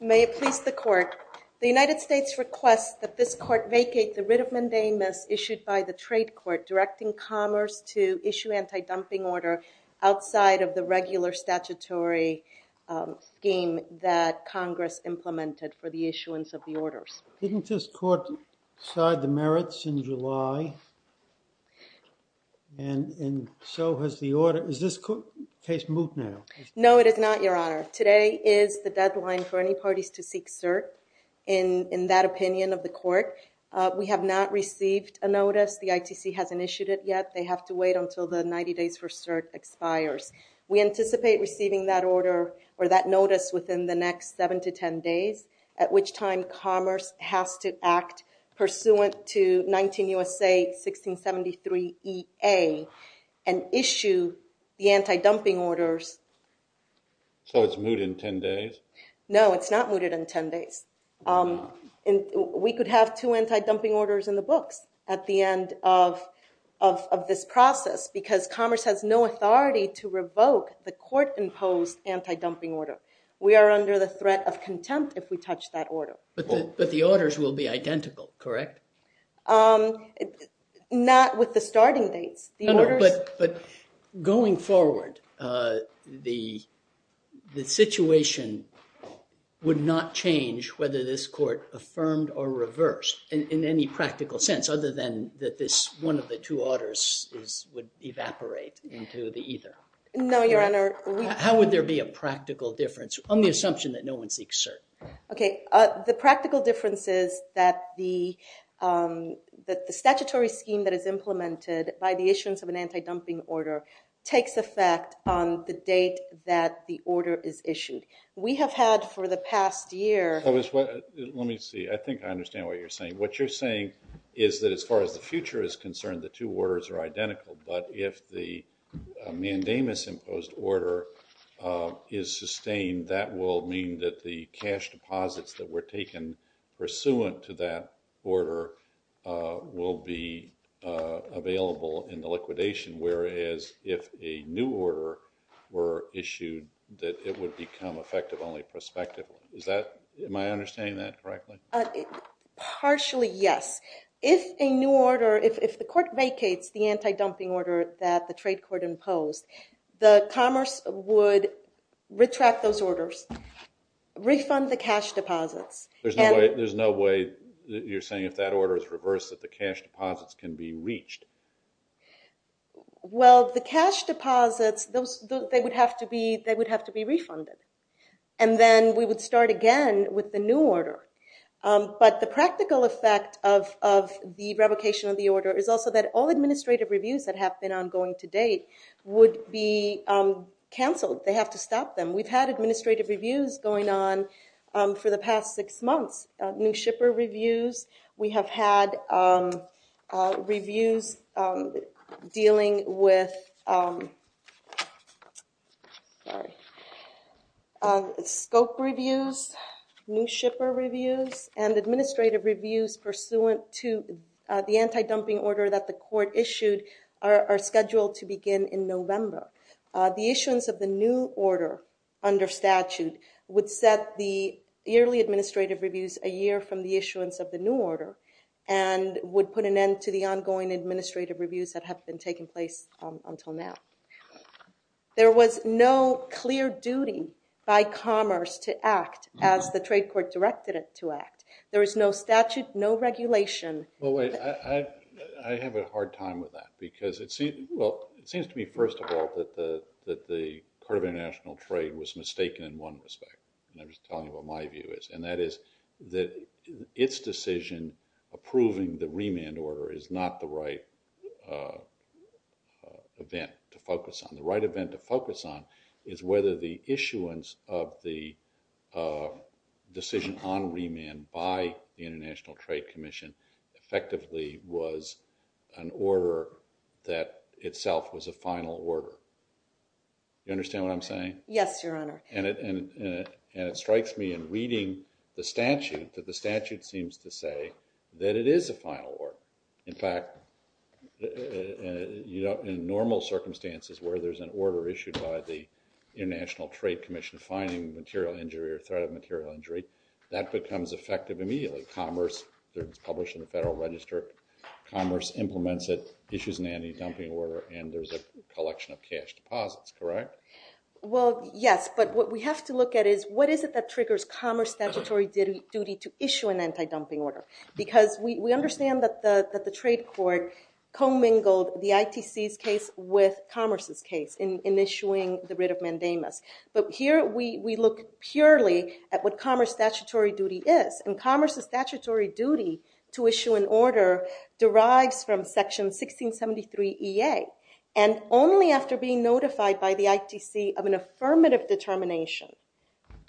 May it please the Court, the United States requests that this Court vacate the writ of mandamus issued by the Trade Court directing Commerce to issue anti-dumping order outside of the regular statutory scheme that Congress implemented for the issuance of the orders. Didn't this Court decide the merits in July and so has the order, is this case moot now? No, it is not, Your Honor. Today is the deadline for any parties to seek cert in that opinion of the Court. We have not received a notice, the ITC hasn't issued it yet. They have to wait until the 90 days for cert expires. We anticipate receiving that order or that notice within the next 7 to 10 days at which time Commerce has to act pursuant to 19 U.S.A. 1673 E.A. and issue the anti-dumping orders. So it's moot in 10 days? No, it's not mooted in 10 days. We could have two anti-dumping orders in the books at the end of this process because Commerce has no authority to revoke the Court-imposed anti-dumping order. We are under the threat of contempt if we touch that order. But the orders will be identical, correct? Not with the starting dates. But going forward, the situation would not change whether this Court affirmed or reversed in any practical sense other than that this one of the two orders would evaporate into the either. No, Your Honor. How would there be a practical difference on the assumption that no one seeks cert? Okay, the practical difference is that the statutory scheme that is implemented by the issuance of an anti-dumping order takes effect on the date that the order is issued. We have had for the past year... Let me see. I think I understand what you're saying. What you're saying is that as far as the future is concerned, the two orders are identical. But if the mandamus-imposed order is sustained, that will mean that the cash deposits that were taken pursuant to that order will be available in the liquidation. Whereas if a new order were issued, that it would become effective only prospectively. Is that... Am I understanding that correctly? Partially, yes. If a new order... If the Court vacates the anti-dumping order that the trade court imposed, the Commerce would retract those orders, refund the cash deposits. There's no way... You're saying if that order is reversed that the cash deposits can be reached. Well, the cash deposits, they would have to be refunded. And then we would start again with the new order. But the practical effect of the revocation of the order is also that all administrative reviews that have been ongoing to date would be cancelled. They have to stop them. We've had administrative reviews going on for the past six months. New shipper reviews. We have had reviews dealing with... Sorry. Scope reviews, new shipper reviews, and administrative reviews pursuant to the anti-dumping order that the Court issued are scheduled to begin in November. The issuance of the new order under statute would set the yearly administrative reviews a year from the issuance of the new order and would put an end to the ongoing administrative reviews that have been taking place until now. There was no clear duty by Commerce to act as the trade court directed it to act. There is no statute, no regulation. Well, wait. I have a hard time with that. Because it seems to me, first of all, that the Court of International Trade was mistaken in one respect. And I'm just telling you what my view is. And that is that its decision approving the remand order is not the right event to focus on. The right event to focus on is whether the issuance of the decision on remand by the International Trade Commission effectively was an order that itself was a final order. You understand what I'm saying? Yes, Your Honor. And it strikes me in reading the statute that the statute seems to say that it is a final order. In fact, in normal circumstances where there's an order issued by the International Trade Commission finding material injury or threat of material injury, that becomes effective immediately. Commerce, it's published in the Federal Register, Commerce implements it, issues an anti-dumping order, and there's a collection of cash deposits, correct? Well, yes. But what we have to look at is, what is it that triggers Commerce statutory duty to issue an anti-dumping order? Because we understand that the trade court commingled the ITC's case with Commerce's case in issuing the writ of mandamus. But here, we look purely at what Commerce statutory duty is. And Commerce's statutory duty to issue an order derives from section 1673EA. And only after being notified by the ITC of an affirmative determination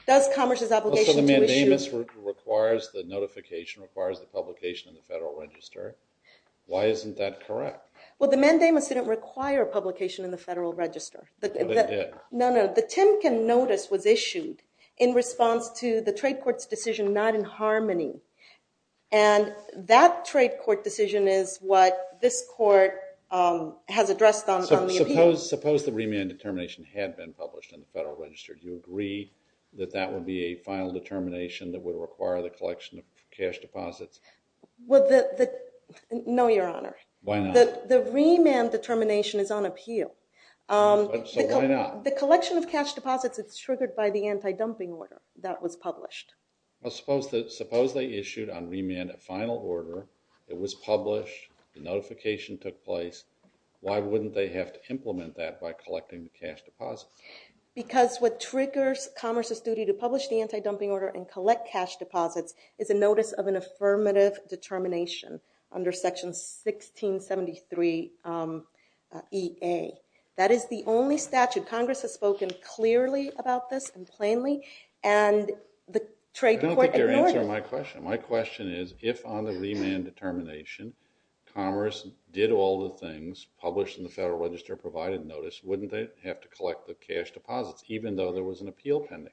does Commerce's obligation to issue. So the mandamus requires the notification, requires the publication in the Federal Register. Why isn't that correct? Well, the mandamus didn't require publication in the Federal Register. But it did. No, no. The Timken notice was issued in response to the trade court's decision not in harmony. And that trade court decision is what this court has addressed on the appeal. Suppose the remand determination had been published in the Federal Register. Do you agree that that would be a final determination that would require the collection of cash deposits? Well, no, Your Honor. Why not? The remand determination is on appeal. So why not? The collection of cash deposits is triggered by the anti-dumping order that was published. Well, suppose they issued on remand a final order. It was published. The notification took place. Why wouldn't they have to implement that by collecting the cash deposits? Because what triggers Commerce's duty to publish the anti-dumping order and collect cash deposits is a notice of an affirmative determination under section 1673EA. That is the only statute. Congress has spoken clearly about this and plainly. And the trade court ignored it. I don't think you're answering my question. My question is, if on the remand determination, Commerce did all the things published in the Federal Register provided notice, wouldn't they have to collect the cash deposits, even though there was an appeal pending?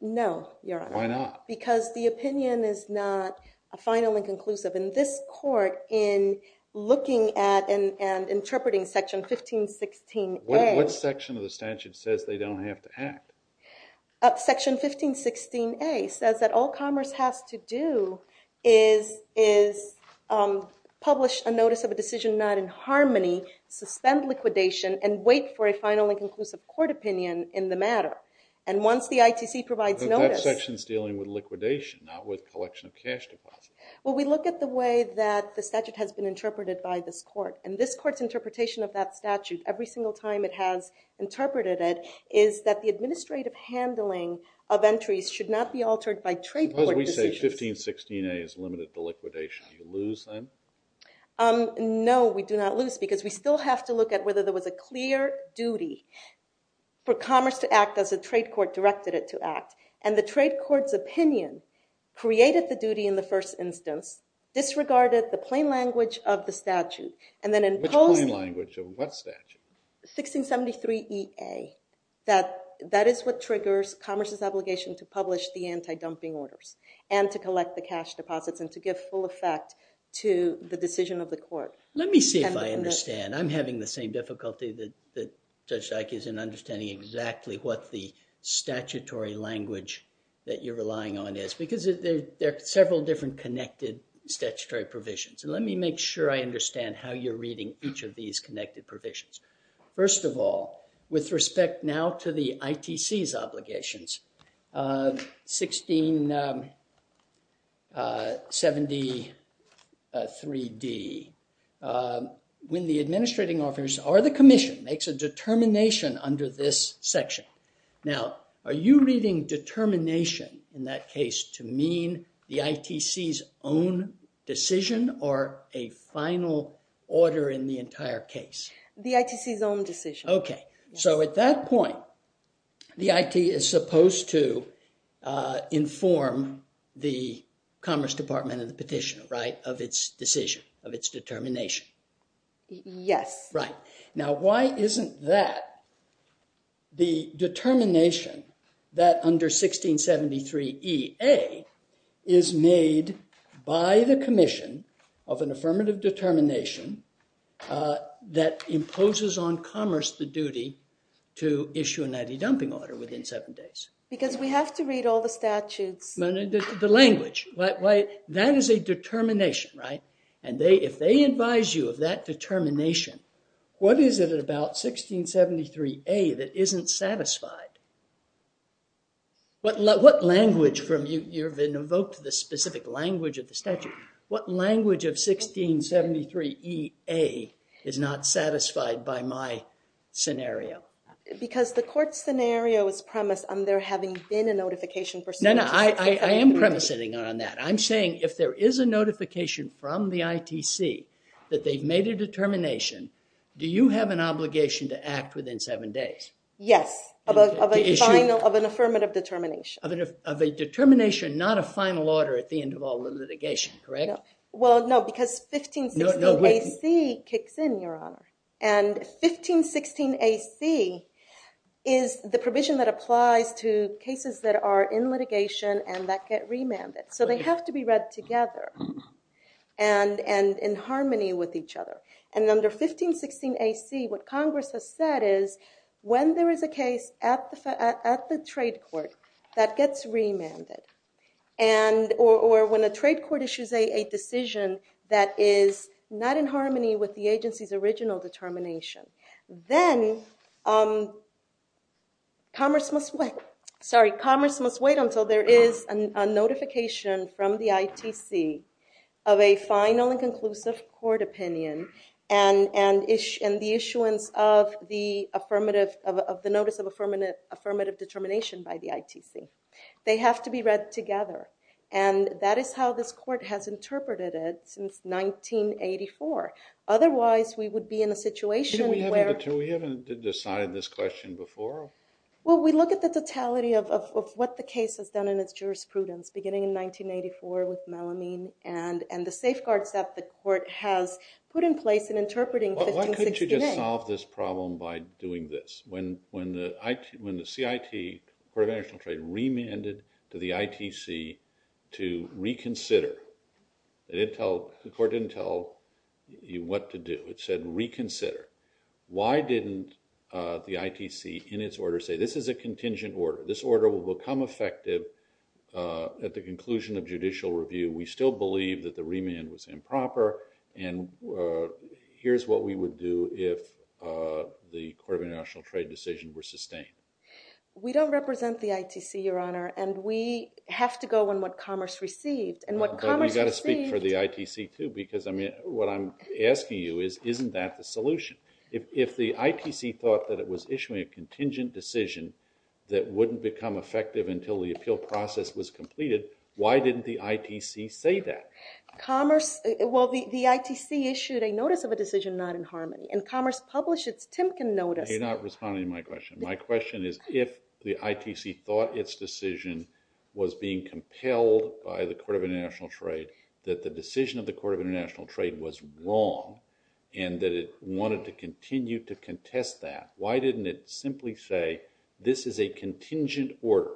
No, Your Honor. Why not? Because the opinion is not a final and conclusive. And this court, in looking at and interpreting section 1516A. What section of the statute says they don't have to act? Section 1516A says that all Commerce has to do is publish a notice of a decision not in harmony, suspend liquidation, and wait for a final and conclusive court opinion in the matter. And once the ITC provides notice. But that section's dealing with liquidation, not with collection of cash deposits. Well, we look at the way that the statute has been interpreted by this court. And this court's interpretation of that statute, every single time it has interpreted it, is that the administrative handling of entries should not be altered by trade court decisions. Suppose we say 1516A is limited to liquidation. Do you lose then? No, we do not lose, because we still have to look at whether there was a clear duty for Commerce to act as a trade court directed it to act. And the trade court's opinion created the duty in the first instance, disregarded the plain language of the statute, and then imposed. Which plain language? Of what statute? 1673EA. That is what triggers Commerce's obligation to publish the anti-dumping orders, and to collect the cash deposits, and to give full effect to the decision of the court. Let me see if I understand. I'm having the same difficulty that Judge Dyck is in understanding exactly what the statutory language that you're relying on is. Because there are several different connected statutory provisions. And let me make sure I understand how you're reading each of these connected provisions. First of all, with respect now to the ITC's obligations, 1673D, when the administrating officers or the commission makes a determination under this section. Now, are you reading determination in that case to mean the ITC's own decision, or a final order in the entire case? The ITC's own decision. OK. So at that point, the IT is supposed to inform the Commerce Department of the petition, right, of its decision, of its determination. Yes. Right. Now, why isn't that the determination that under 1673EA is made by the commission of an affirmative determination that imposes on commerce the duty to issue an ID dumping order within seven days? Because we have to read all the statutes. The language. That is a determination, right? And if they advise you of that determination, what is it about 1673A that isn't satisfied? What language from you, you've evoked the specific language of the statute, what language of 1673EA is not satisfied by my scenario? Because the court scenario is premised on there having been a notification for 1673D. No, no, I am premising on that. I'm saying if there is a notification from the ITC that they've made a determination, do you have an obligation to act within seven days? Yes, of an affirmative determination. Of a determination, not a final order at the end of all the litigation, correct? Well, no, because 1516AC kicks in, Your Honor. And 1516AC is the provision that applies to cases that are in litigation and that get remanded. So they have to be read together. And in harmony with each other. And under 1516AC, what Congress has said is, when there is a case at the trade court that gets remanded, or when a trade court issues a decision that is not in harmony with the agency's original determination, then commerce must wait. Sorry, commerce must wait until there is a notification from the ITC of a final and conclusive court opinion and the issuance of the affirmative, of the notice of affirmative determination by the ITC. They have to be read together. And that is how this court has interpreted it since 1984. Otherwise, we would be in a situation where- Didn't we have to decide this question before? Well, we look at the totality of what the case has done in its jurisprudence, beginning in 1984 with Melamine, and the safeguards that the court has put in place in interpreting 1516A. Well, why couldn't you just solve this problem by doing this? When the CIT, the Court of International Trade, remanded to the ITC to reconsider, the court didn't tell you what to do. It said reconsider. Why didn't the ITC, in its order, say, this is a contingent order. This order will become effective at the conclusion of judicial review. We still believe that the remand was improper, and here's what we would do if the Court of International Trade decision were sustained. We don't represent the ITC, Your Honor, and we have to go on what Commerce received. And what Commerce received- But you gotta speak for the ITC, too, because what I'm asking you is, isn't that the solution? If the ITC thought that it was issuing a contingent decision that wouldn't become effective until the appeal process was completed, why didn't the ITC say that? Commerce, well, the ITC issued a notice of a decision not in harmony, and Commerce published its Timken notice. You're not responding to my question. My question is, if the ITC thought its decision was being compelled by the Court of International Trade, that the decision of the Court of International Trade was wrong, and that it wanted to continue to contest that, why didn't it simply say, this is a contingent order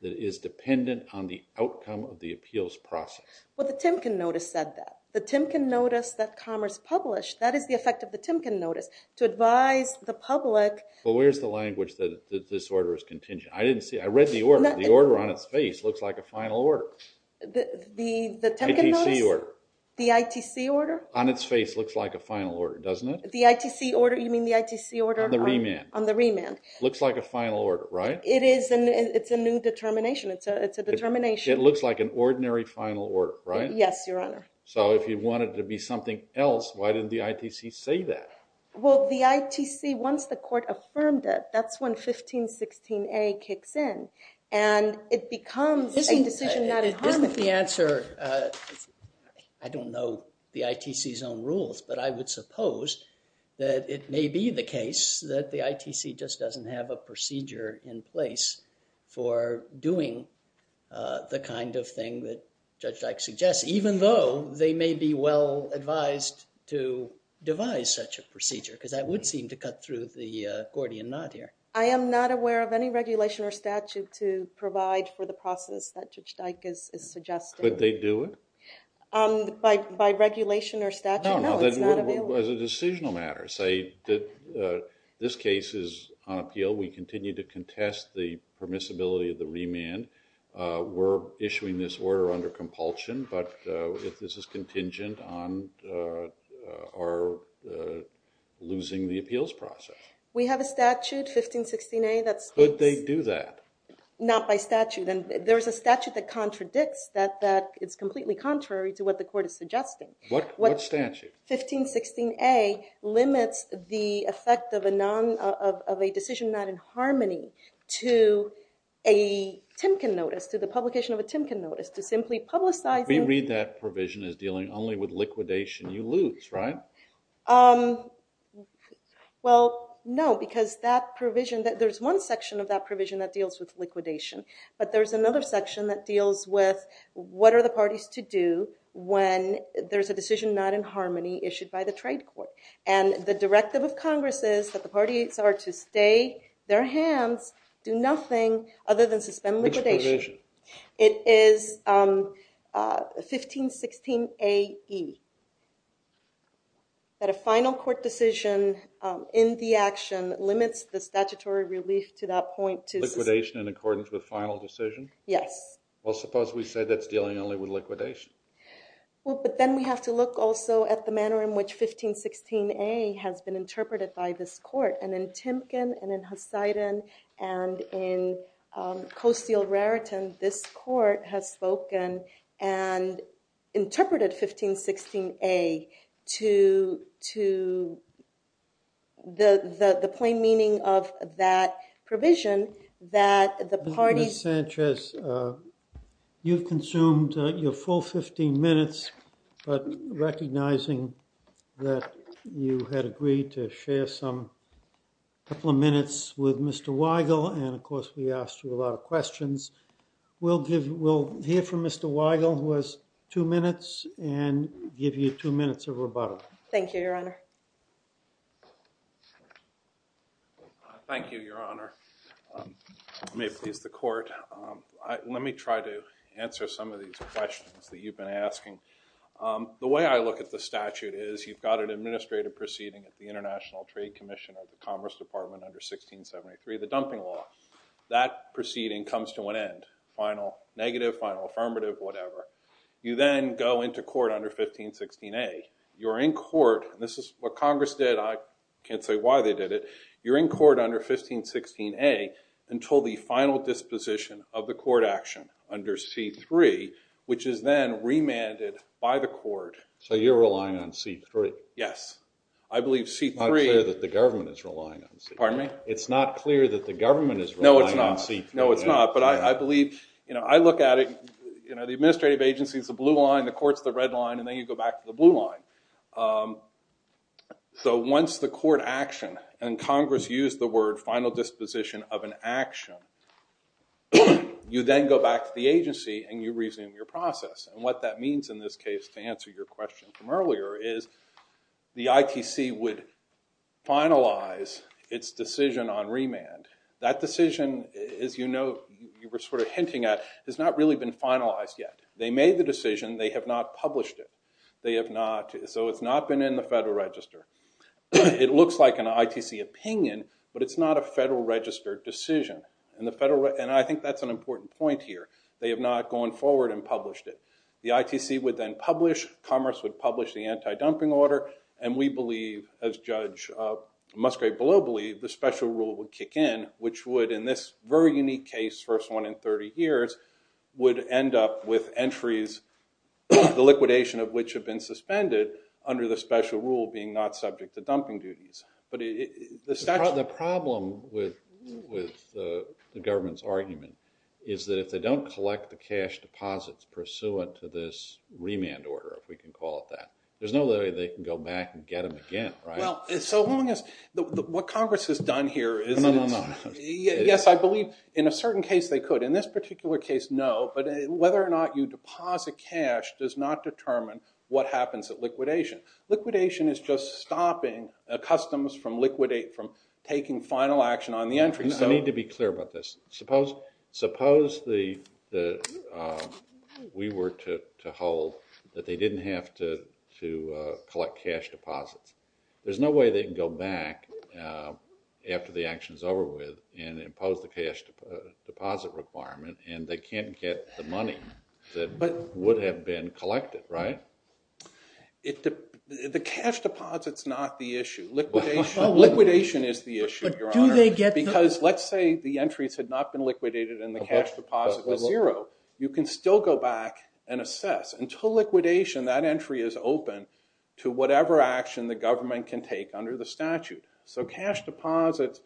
that is dependent on the outcome of the appeals process? Well, the Timken notice said that. The Timken notice that Commerce published, that is the effect of the Timken notice, to advise the public- Well, where's the language that this order is contingent? I didn't see, I read the order. The order on its face looks like a final order. The Timken notice? ITC order. The ITC order? On its face looks like a final order, doesn't it? The ITC order, you mean the ITC order on the- On the remand. Looks like a final order, right? It is, and it's a new determination. It's a determination. It looks like an ordinary final order, right? Yes, Your Honor. So if you want it to be something else, why didn't the ITC say that? Well, the ITC, once the court affirmed it, that's when 1516A kicks in, and it becomes a decision not in harm's way. Isn't the answer, I don't know the ITC's own rules, but I would suppose that it may be the case that the ITC just doesn't have a procedure in place for doing the kind of thing that Judge Dyke suggests, even though they may be well advised to devise such a procedure, because that would seem to cut through the Gordian knot here. I am not aware of any regulation or statute to provide for the process that Judge Dyke is suggesting. Could they do it? By regulation or statute? No, it's not available. As a decisional matter, say that this case is on appeal. We continue to contest the permissibility of the remand. We're issuing this order under compulsion, but if this is contingent on our losing the appeals process. We have a statute, 1516A, that speaks. Could they do that? Not by statute. And there's a statute that contradicts that, that it's completely contrary to what the court is suggesting. What statute? 1516A limits the effect of a decision not in harmony to a Timken notice, to the publication of a Timken notice, to simply publicizing. We read that provision as dealing only with liquidation. You lose, right? Well, no, because that provision, there's one section of that provision that deals with liquidation, but there's another section that deals with what are the parties to do when there's a decision not in harmony issued by the trade court. And the directive of Congress is that the parties are to stay their hands, do nothing other than suspend liquidation. Which provision? It is 1516AE. That a final court decision in the action limits the statutory relief to that point. Liquidation in accordance with final decision? Yes. Well, suppose we say that's dealing only with liquidation. Well, but then we have to look also at the manner in which 1516A has been interpreted by this court. And in Timken, and in Hussein, and in Coseal Raritan, this court has spoken and interpreted 1516A to the plain meaning of that provision that the parties- You've consumed your full 15 minutes, but recognizing that you had agreed to share some couple of minutes with Mr. Weigel, and of course we asked you a lot of questions, we'll hear from Mr. Weigel who has two minutes and give you two minutes of rebuttal. Thank you, Your Honor. Thank you, Your Honor. May it please the court. Let me try to answer some of these questions that you've been asking. The way I look at the statute is you've got an administrative proceeding at the International Trade Commission of the Commerce Department under 1673, the dumping law. That proceeding comes to an end, final negative, final affirmative, whatever. You then go into court under 1516A. You're in court, and this is what Congress did, I can't say why they did it. You're in court under 1516A until the final disposition of the court action under C3, which is then remanded by the court. So you're relying on C3? I believe C3. It's not clear that the government is relying on C3. Pardon me? It's not clear that the government is relying on C3. No, it's not, but I believe, I look at it, the administrative agency's the blue line, the court's the red line, and then you go back to the blue line. So once the court action, and Congress used the word final disposition of an action, you then go back to the agency and you resume your process. And what that means in this case, to answer your question from earlier, is the ITC would finalize its decision on remand. That decision, as you know, you were sort of hinting at, has not really been finalized yet. They made the decision, they have not published it. They have not, so it's not been in the Federal Register. It looks like an ITC opinion, but it's not a Federal Register decision. And I think that's an important point here. They have not gone forward and published it. The ITC would then publish, Congress would publish the anti-dumping order, and we believe, as Judge Musgrave-Below believed, the special rule would kick in, which would, in this very unique case, first one in 30 years, would end up with entries, the liquidation of which have been suspended under the special rule being not subject to dumping duties. But the statute- The problem with the government's argument is that if they don't collect the cash deposits pursuant to this remand order, if we can call it that, there's no way they can go back and get them again, right? Well, so long as, what Congress has done here is- No, no, no. Yes, I believe, in a certain case, they could. In this particular case, no, but whether or not you deposit cash does not determine what happens at liquidation. Liquidation is just stopping customs from taking final action on the entries. I need to be clear about this. Suppose we were to hold that they didn't have to collect cash deposits. There's no way they can go back after the action's over with and impose the cash deposit requirement, and they can't get the money that would have been collected, right? The cash deposit's not the issue. Liquidation is the issue, Your Honor, because let's say the entries had not been liquidated and the cash deposit was zero. You can still go back and assess. Until liquidation, that entry is open to whatever action the government can take under the statute. So cash deposits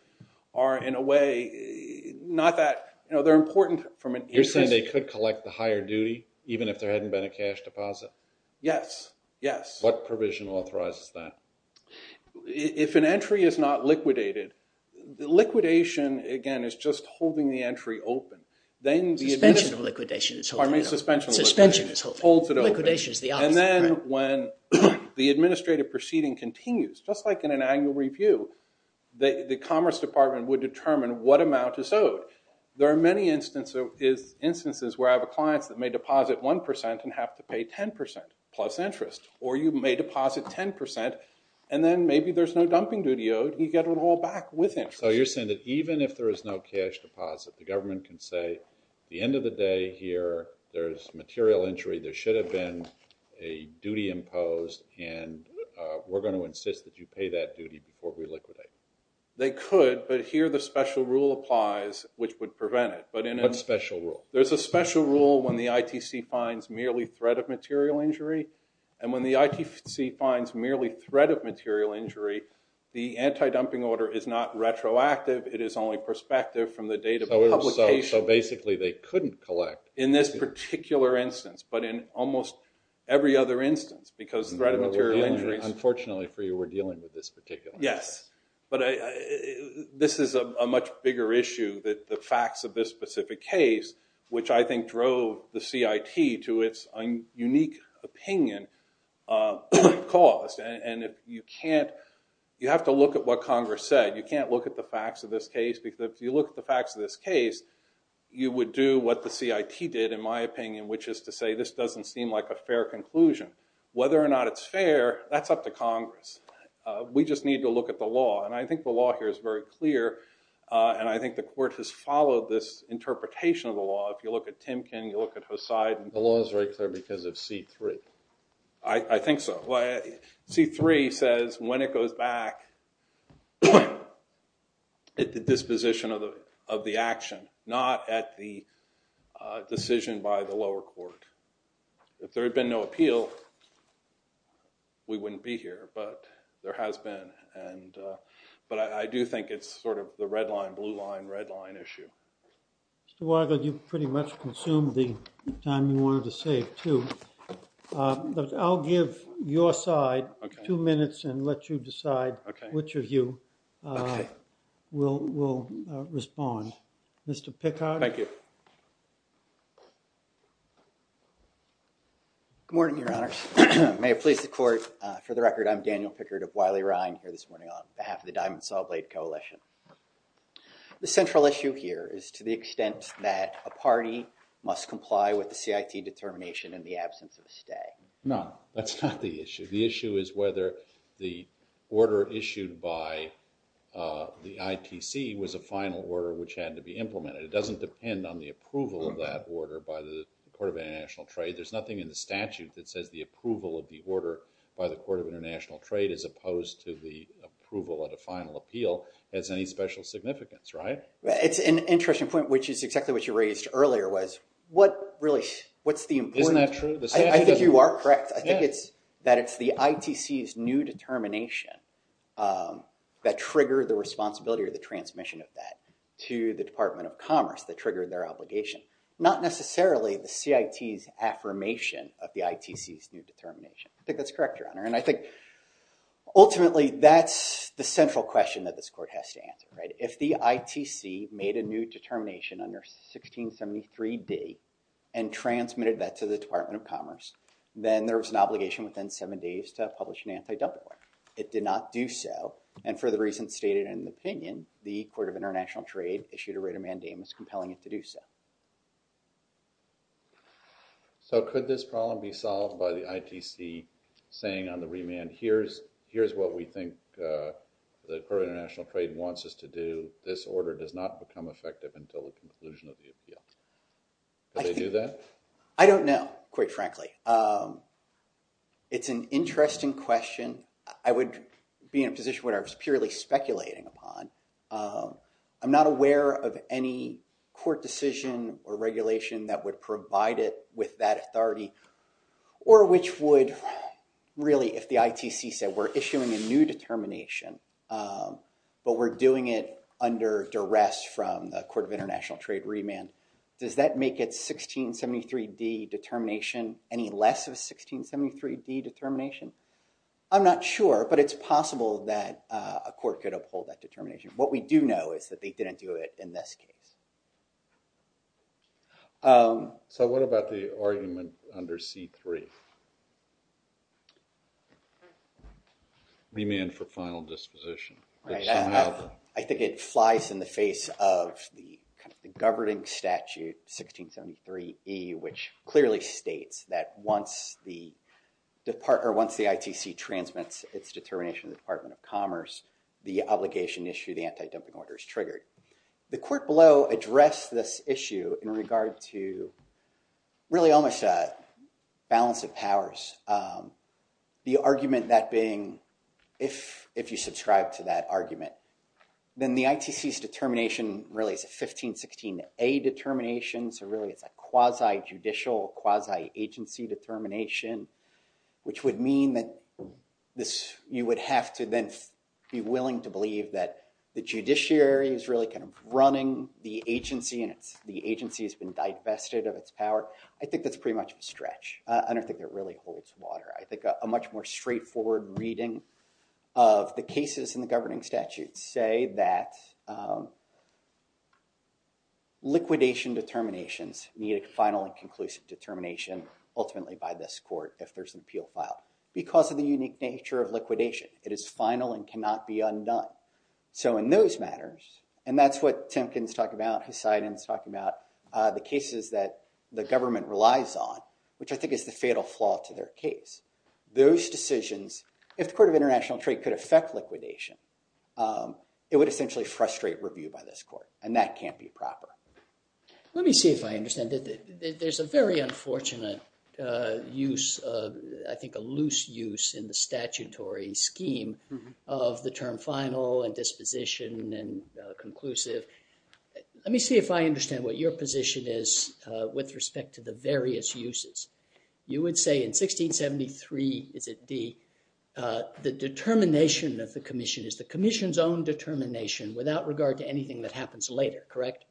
are, in a way, not that, they're important from an interest- You're saying they could collect the higher duty even if there hadn't been a cash deposit? Yes, yes. What provision authorizes that? If an entry is not liquidated, the liquidation, again, is just holding the entry open. Then the- Suspension of liquidation is holding it open. Pardon me, suspension of liquidation. Suspension is holding it open. Holds it open. Liquidation is the opposite, correct. And then when the administrative proceeding continues, just like in an annual review, the Commerce Department would determine what amount is owed. There are many instances where I have clients that may deposit 1% and have to pay 10% plus interest, or you may deposit 10%, and then maybe there's no dumping duty owed. You get it all back with interest. So you're saying that even if there is no cash deposit, the government can say, the end of the day here, there's material injury. There should have been a duty imposed, and we're going to insist that you pay that duty before we liquidate. They could, but here the special rule applies, which would prevent it. But in a- What special rule? There's a special rule when the ITC finds merely threat of material injury, and when the ITC finds merely threat of material injury, the anti-dumping order is not retroactive. It is only prospective from the date of publication. So basically, they couldn't collect- In this particular instance, but in almost every other instance, because threat of material injuries- Unfortunately for you, we're dealing with this particular- Yes, but this is a much bigger issue that the facts of this specific case, which I think drove the CIT to its unique opinion, caused, and if you can't, you have to look at what Congress said. You can't look at the facts of this case, because if you look at the facts of this case, you would do what the CIT did, in my opinion, which is to say, this doesn't seem like a fair conclusion. Whether or not it's fair, that's up to Congress. We just need to look at the law, and I think the law here is very clear, and I think the court has followed this interpretation of the law. If you look at Timken, you look at Hoseidin- The law is very clear because of C3. I think so. C3 says, when it goes back, at the disposition of the action, not at the decision by the lower court. If there had been no appeal, we wouldn't be here, but there has been, but I do think it's sort of the red line, Mr. Weigel, you've pretty much consumed the time you wanted to save, too. I'll give your side two minutes, and let you decide which of you will respond. Mr. Pickard? Thank you. Good morning, your honors. May it please the court, for the record, I'm Daniel Pickard of Wiley-Rhein here this morning on behalf of the Diamond Sawblade Coalition. The central issue here is to the extent that a party must comply with the CIT determination in the absence of a stay. No, that's not the issue. The issue is whether the order issued by the ITC was a final order which had to be implemented. It doesn't depend on the approval of that order by the Court of International Trade. There's nothing in the statute that says the approval of the order by the Court of International Trade as opposed to the approval at a final appeal has any special significance, right? It's an interesting point, which is exactly what you raised earlier, was what really, what's the importance? Isn't that true? I think you are correct. I think it's that it's the ITC's new determination that triggered the responsibility or the transmission of that to the Department of Commerce that triggered their obligation. Not necessarily the CIT's affirmation of the ITC's new determination. I think that's correct, your honor. And I think, ultimately, that's the central question that this court has to answer, right? If the ITC made a new determination under 1673d and transmitted that to the Department of Commerce, then there was an obligation within seven days to publish an anti-double order. It did not do so, and for the reasons stated in the opinion, the Court of International Trade issued a rate of mandamus compelling it to do so. So could this problem be solved by the ITC saying on the remand, here's what we think the Court of International Trade wants us to do. This order does not become effective until the conclusion of the appeal. Could they do that? I don't know, quite frankly. It's an interesting question. I would be in a position where I was purely speculating upon. I'm not aware of any court decision or regulation that would provide it with that authority, or which would, really, if the ITC said, we're issuing a new determination, but we're doing it under duress from the Court of International Trade remand, does that make it 1673d determination any less of a 1673d determination? I'm not sure, but it's possible that a court could uphold that determination. What we do know is that they didn't do it in this case. So what about the argument under C3? Remand for final disposition. Right, I think it flies in the face of the governing statute, 1673e, which clearly states that once the ITC transmits its determination to the Department of Commerce, the obligation issue, the anti-dumping order, is triggered. The court below addressed this issue in regard to, really, almost a balance of powers. The argument that being, if you subscribe to that argument, then the ITC's determination, really, is a 1516a determination, so really, it's a quasi-judicial, quasi-agency determination, which would mean that you would have to then be willing to believe that the judiciary is really kind of running the agency, and the agency has been divested of its power. I think that's pretty much a stretch. I don't think it really holds water. I think a much more straightforward reading of the cases in the governing statute say that liquidation determinations need a final and conclusive determination, ultimately, by this court, if there's an appeal filed, because of the unique nature of liquidation. It is final and cannot be undone. So in those matters, and that's what Timken's talking about, Hussein's talking about, the cases that the government relies on, which I think is the fatal flaw to their case, those decisions, if the Court of International Trade could affect liquidation, it would essentially frustrate review by this court, and that can't be proper. Let me see if I understand. There's a very unfortunate use, I think a loose use, in the statutory scheme of the term final and disposition and conclusive. Let me see if I understand what your position is with respect to the various uses. You would say in 1673, is it D, the determination of the commission is the commission's own determination without regard to anything that happens later, correct?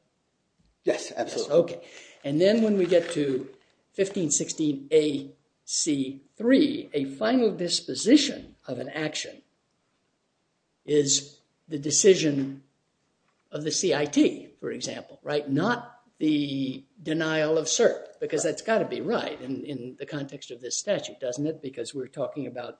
Yes, absolutely. Okay, and then when we get to 1516 AC3, a final disposition of an action is the decision of the CIT, for example, right? Not the denial of cert, because that's gotta be right in the context of this statute, doesn't it? Because we're talking about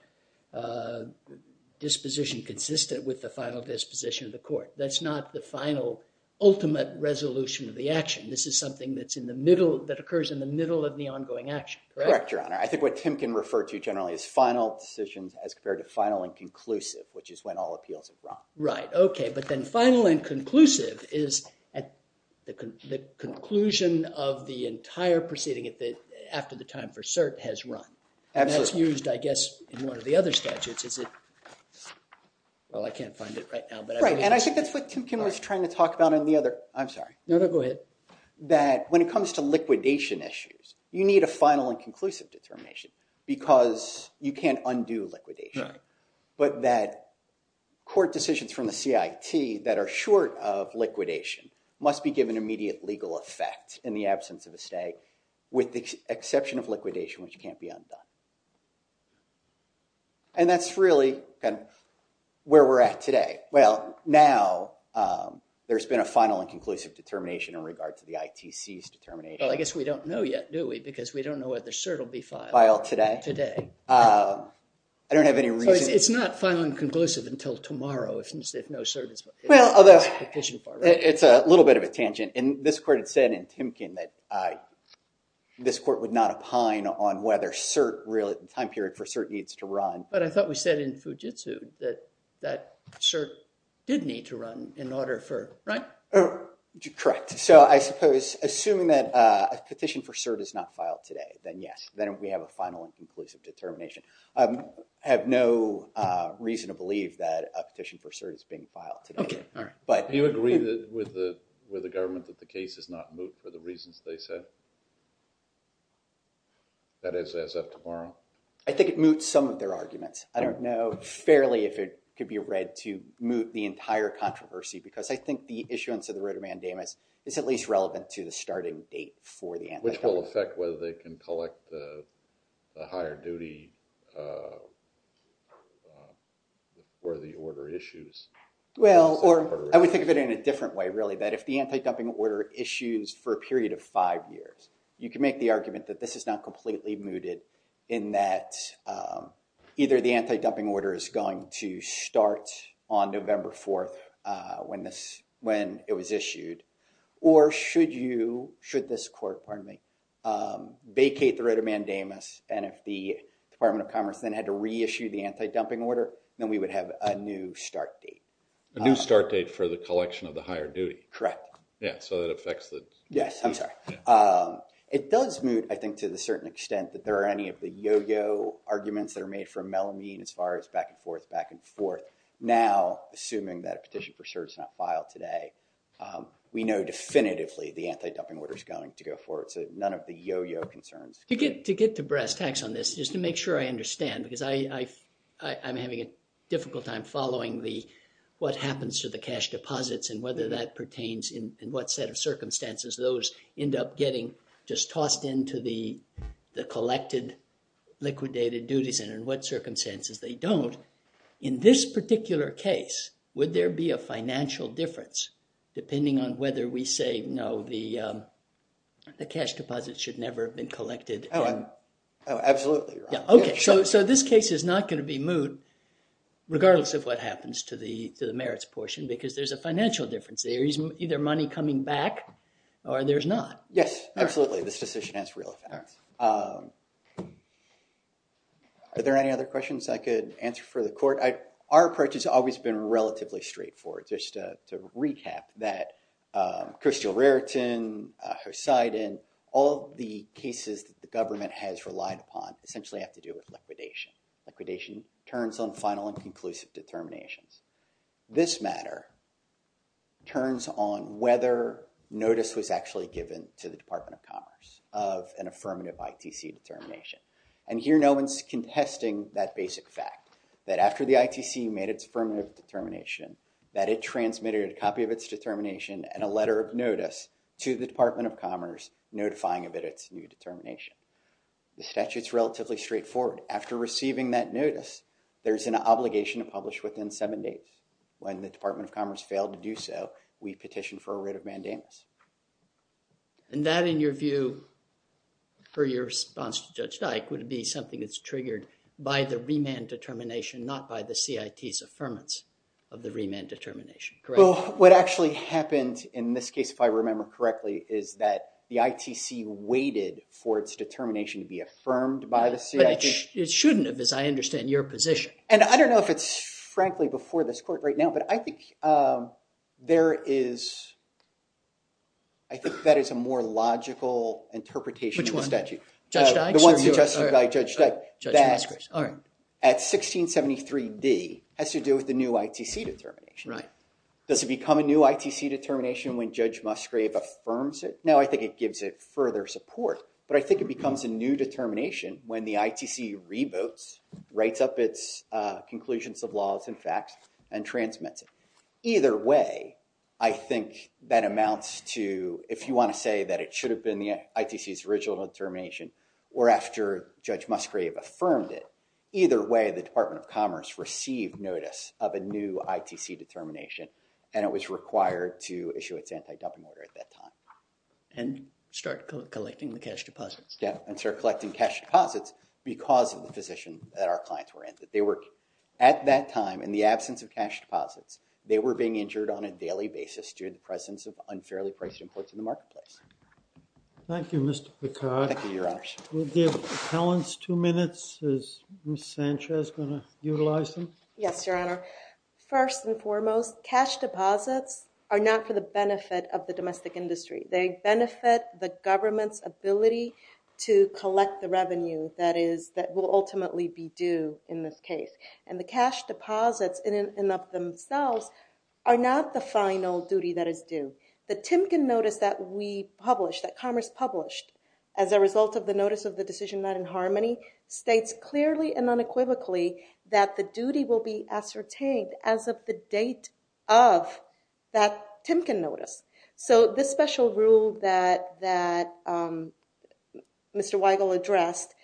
disposition consistent with the final disposition of the court. That's not the final, ultimate resolution of the action. This is something that's in the middle, that occurs in the middle of the ongoing action, correct? Correct, Your Honor. I think what Tim can refer to generally is final decisions as compared to final and conclusive, which is when all appeals are brought. Right, okay, but then final and conclusive is at the conclusion of the entire proceeding after the time for cert has run. Absolutely. And that's used, I guess, in one of the other statutes, is it, well, I can't find it right now, but I believe that's it. Right, and I think that's what Tim Kim was trying to talk about in the other, I'm sorry. No, no, go ahead. That when it comes to liquidation issues, you need a final and conclusive determination, because you can't undo liquidation, but that court decisions from the CIT that are short of liquidation must be given immediate legal effect in the absence of a stay, with the exception of liquidation, which can't be undone. And that's really kind of where we're at today. Well, now, there's been a final and conclusive determination in regard to the ITC's determination. Well, I guess we don't know yet, do we? Because we don't know whether cert will be filed. Filed today. Today. I don't have any reason. It's not final and conclusive until tomorrow, if no cert is filed. Well, although, it's a little bit of a tangent, and this court had said in Tim Kim that this court would not opine on whether cert, really, the time period for cert needs to run. But I thought we said in Fujitsu that cert did need to run in order for, right? Correct. So, I suppose, assuming that a petition for cert is not filed today, then yes, then we have a final and conclusive determination. I have no reason to believe that a petition for cert is being filed today. Okay, all right. Do you agree with the government that the case is not moot for the reasons they said? That is as of tomorrow? I think it moots some of their arguments. I don't know fairly if it could be read to moot the entire controversy, because I think the issuance of the writ of mandamus is at least relevant to the starting date for the antidote. Which will affect whether they can collect the higher duty for the order issues. Well, I would think of it in a different way, really, that if the anti-dumping order issues for a period of five years, you can make the argument that this is not completely mooted in that either the anti-dumping order is going to start on November 4th when it was issued, or should you, should this court, pardon me, vacate the writ of mandamus, and if the Department of Commerce then had to reissue the anti-dumping order, then we would have a new start date. A new start date for the collection of the higher duty. Correct. Yeah, so that affects the... Yes, I'm sorry. It does moot, I think, to the certain extent that there are any of the yo-yo arguments that are made for Melamine as far as back and forth, back and forth. Now, assuming that a petition for cert is not filed today, we know definitively the anti-dumping order is going to go forward. None of the yo-yo concerns. To get to brass tacks on this, just to make sure I understand, because I'm having a difficult time following what happens to the cash deposits and whether that pertains in what set of circumstances those end up getting just tossed into the collected liquidated duties, and in what circumstances they don't. In this particular case, would there be a financial difference, depending on whether we say, no, the cash deposits should never have been collected? Oh, absolutely. Yeah, okay. So this case is not going to be moot, regardless of what happens to the merits portion, because there's a financial difference. There is either money coming back, or there's not. Yes, absolutely. This decision has real effects. Are there any other questions I could answer for the court? Our approach has always been relatively straightforward, just to recap that Crystal Raritan, Hoseidin, all the cases that the government has relied upon essentially have to do with liquidation. Liquidation turns on final and conclusive determinations. This matter turns on whether notice was actually given to the Department of Commerce of an affirmative ITC determination. And here, no one's contesting that basic fact, that after the ITC made its affirmative determination, that it transmitted a copy of its determination and a letter of notice to the Department of Commerce, notifying of its new determination. The statute's relatively straightforward. After receiving that notice, there's an obligation to publish within seven days. When the Department of Commerce failed to do so, we petitioned for a writ of mandamus. And that, in your view, for your response to Judge Dyke, would be something that's triggered by the remand determination, not by the CIT's affirmance of the remand determination. Correct? Well, what actually happened in this case, if I remember correctly, is that the ITC waited for its determination to be affirmed by the CIT. It shouldn't have, as I understand your position. And I don't know if it's, frankly, before this court right now, but I think there is, I think that is a more logical interpretation of the statute. Which one? Judge Dyke's? The one suggested by Judge Dyke. Judge Musgrave, all right. At 1673d has to do with the new ITC determination. Does it become a new ITC determination when Judge Musgrave affirms it? No, I think it gives it further support. But I think it becomes a new determination when the ITC reboots, writes up its conclusions of laws and facts, and transmits it. Either way, I think that amounts to, if you want to say that it should have been the ITC's original determination, or after Judge Musgrave affirmed it, either way, the Department of Commerce received notice of a new ITC determination, and it was required to issue its anti-dumping order at that time. And start collecting the cash deposits. Yeah, and start collecting cash deposits because of the position that our clients were in. That they were, at that time, in the absence of cash deposits, they were being injured on a daily basis due to the presence of unfairly priced imports in the marketplace. Thank you, Mr. Picard. Thank you, your honors. We'll give appellants two minutes. Is Ms. Sanchez gonna utilize them? Yes, your honor. First and foremost, cash deposits are not for the benefit of the domestic industry. They benefit the government's ability to collect the revenue that is, that will ultimately be due in this case. And the cash deposits in and of themselves are not the final duty that is due. The Timken notice that we published, that Commerce published, as a result of the notice of the decision not in harmony, states clearly and unequivocally that the duty will be ascertained as of the date of that Timken notice. So this special rule that Mr. Weigel addressed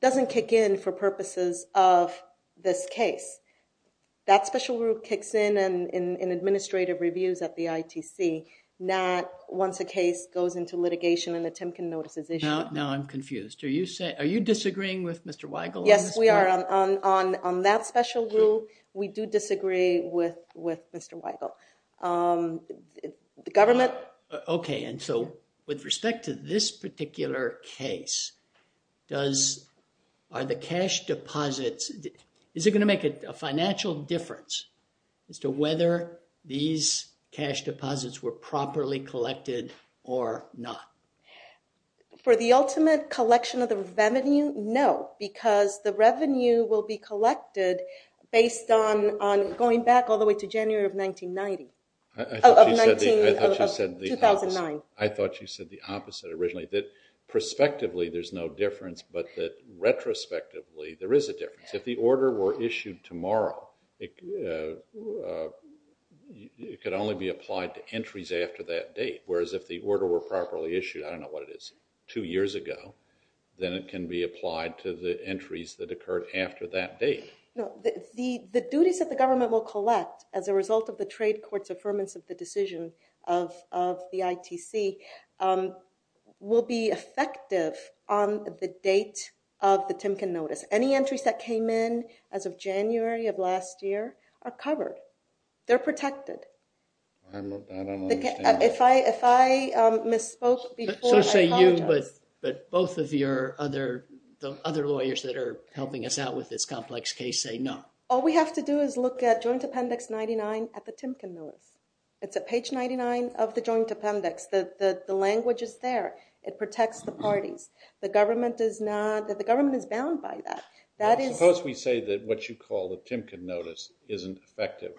doesn't kick in for purposes of this case. That special rule kicks in in administrative reviews at the ITC, not once a case goes into litigation and the Timken notice is issued. Now I'm confused. Are you disagreeing with Mr. Weigel? Yes, we are. On that special rule, we do disagree with Mr. Weigel. The government. Okay, and so with respect to this particular case, are the cash deposits, is it gonna make a financial difference as to whether these cash deposits were properly collected or not? For the ultimate collection of the revenue, no, because the revenue will be collected based on going back all the way to January of 1990. Of 19, of 2009. I thought you said the opposite originally, that prospectively there's no difference, but that retrospectively there is a difference. If the order were issued tomorrow, it could only be applied to entries after that date, whereas if the order were properly issued, I don't know what it is, two years ago, then it can be applied to the entries that occurred after that date. No, the duties that the government will collect as a result of the trade court's affirmance of the decision of the ITC will be effective on the date of the Timken notice. Any entries that came in as of January of last year are covered, they're protected. I don't understand. If I misspoke before, I apologize. So say you, but both of your other lawyers that are helping us out with this complex case say no. All we have to do is look at Joint Appendix 99 at the Timken notice. It's at page 99 of the Joint Appendix. The language is there. It protects the parties. The government is not, the government is bound by that. That is. Suppose we say that what you call the Timken notice isn't effective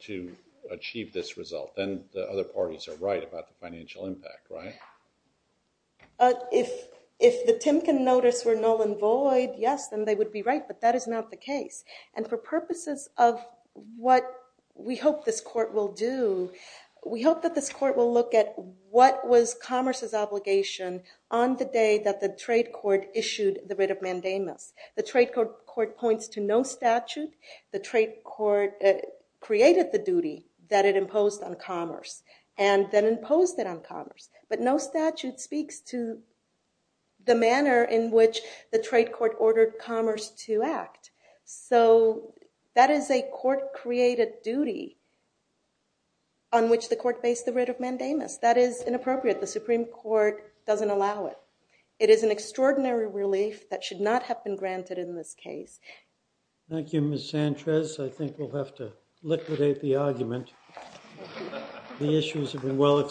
to achieve this result. Then the other parties are right about the financial impact, right? If the Timken notice were null and void, yes, then they would be right, but that is not the case. And for purposes of what we hope this court will do, we hope that this court will look at what was Commerce's obligation on the day that the trade court issued the writ of mandamus. The trade court points to no statute. The trade court created the duty that it imposed on Commerce and then imposed it on Commerce, but no statute speaks to the manner in which the trade court ordered Commerce to act. So that is a court-created duty on which the court based the writ of mandamus. That is inappropriate. The Supreme Court doesn't allow it. It is an extraordinary relief that should not have been granted in this case. Thank you, Ms. Sanchez. I think we'll have to liquidate the argument. The issues have been well-explained.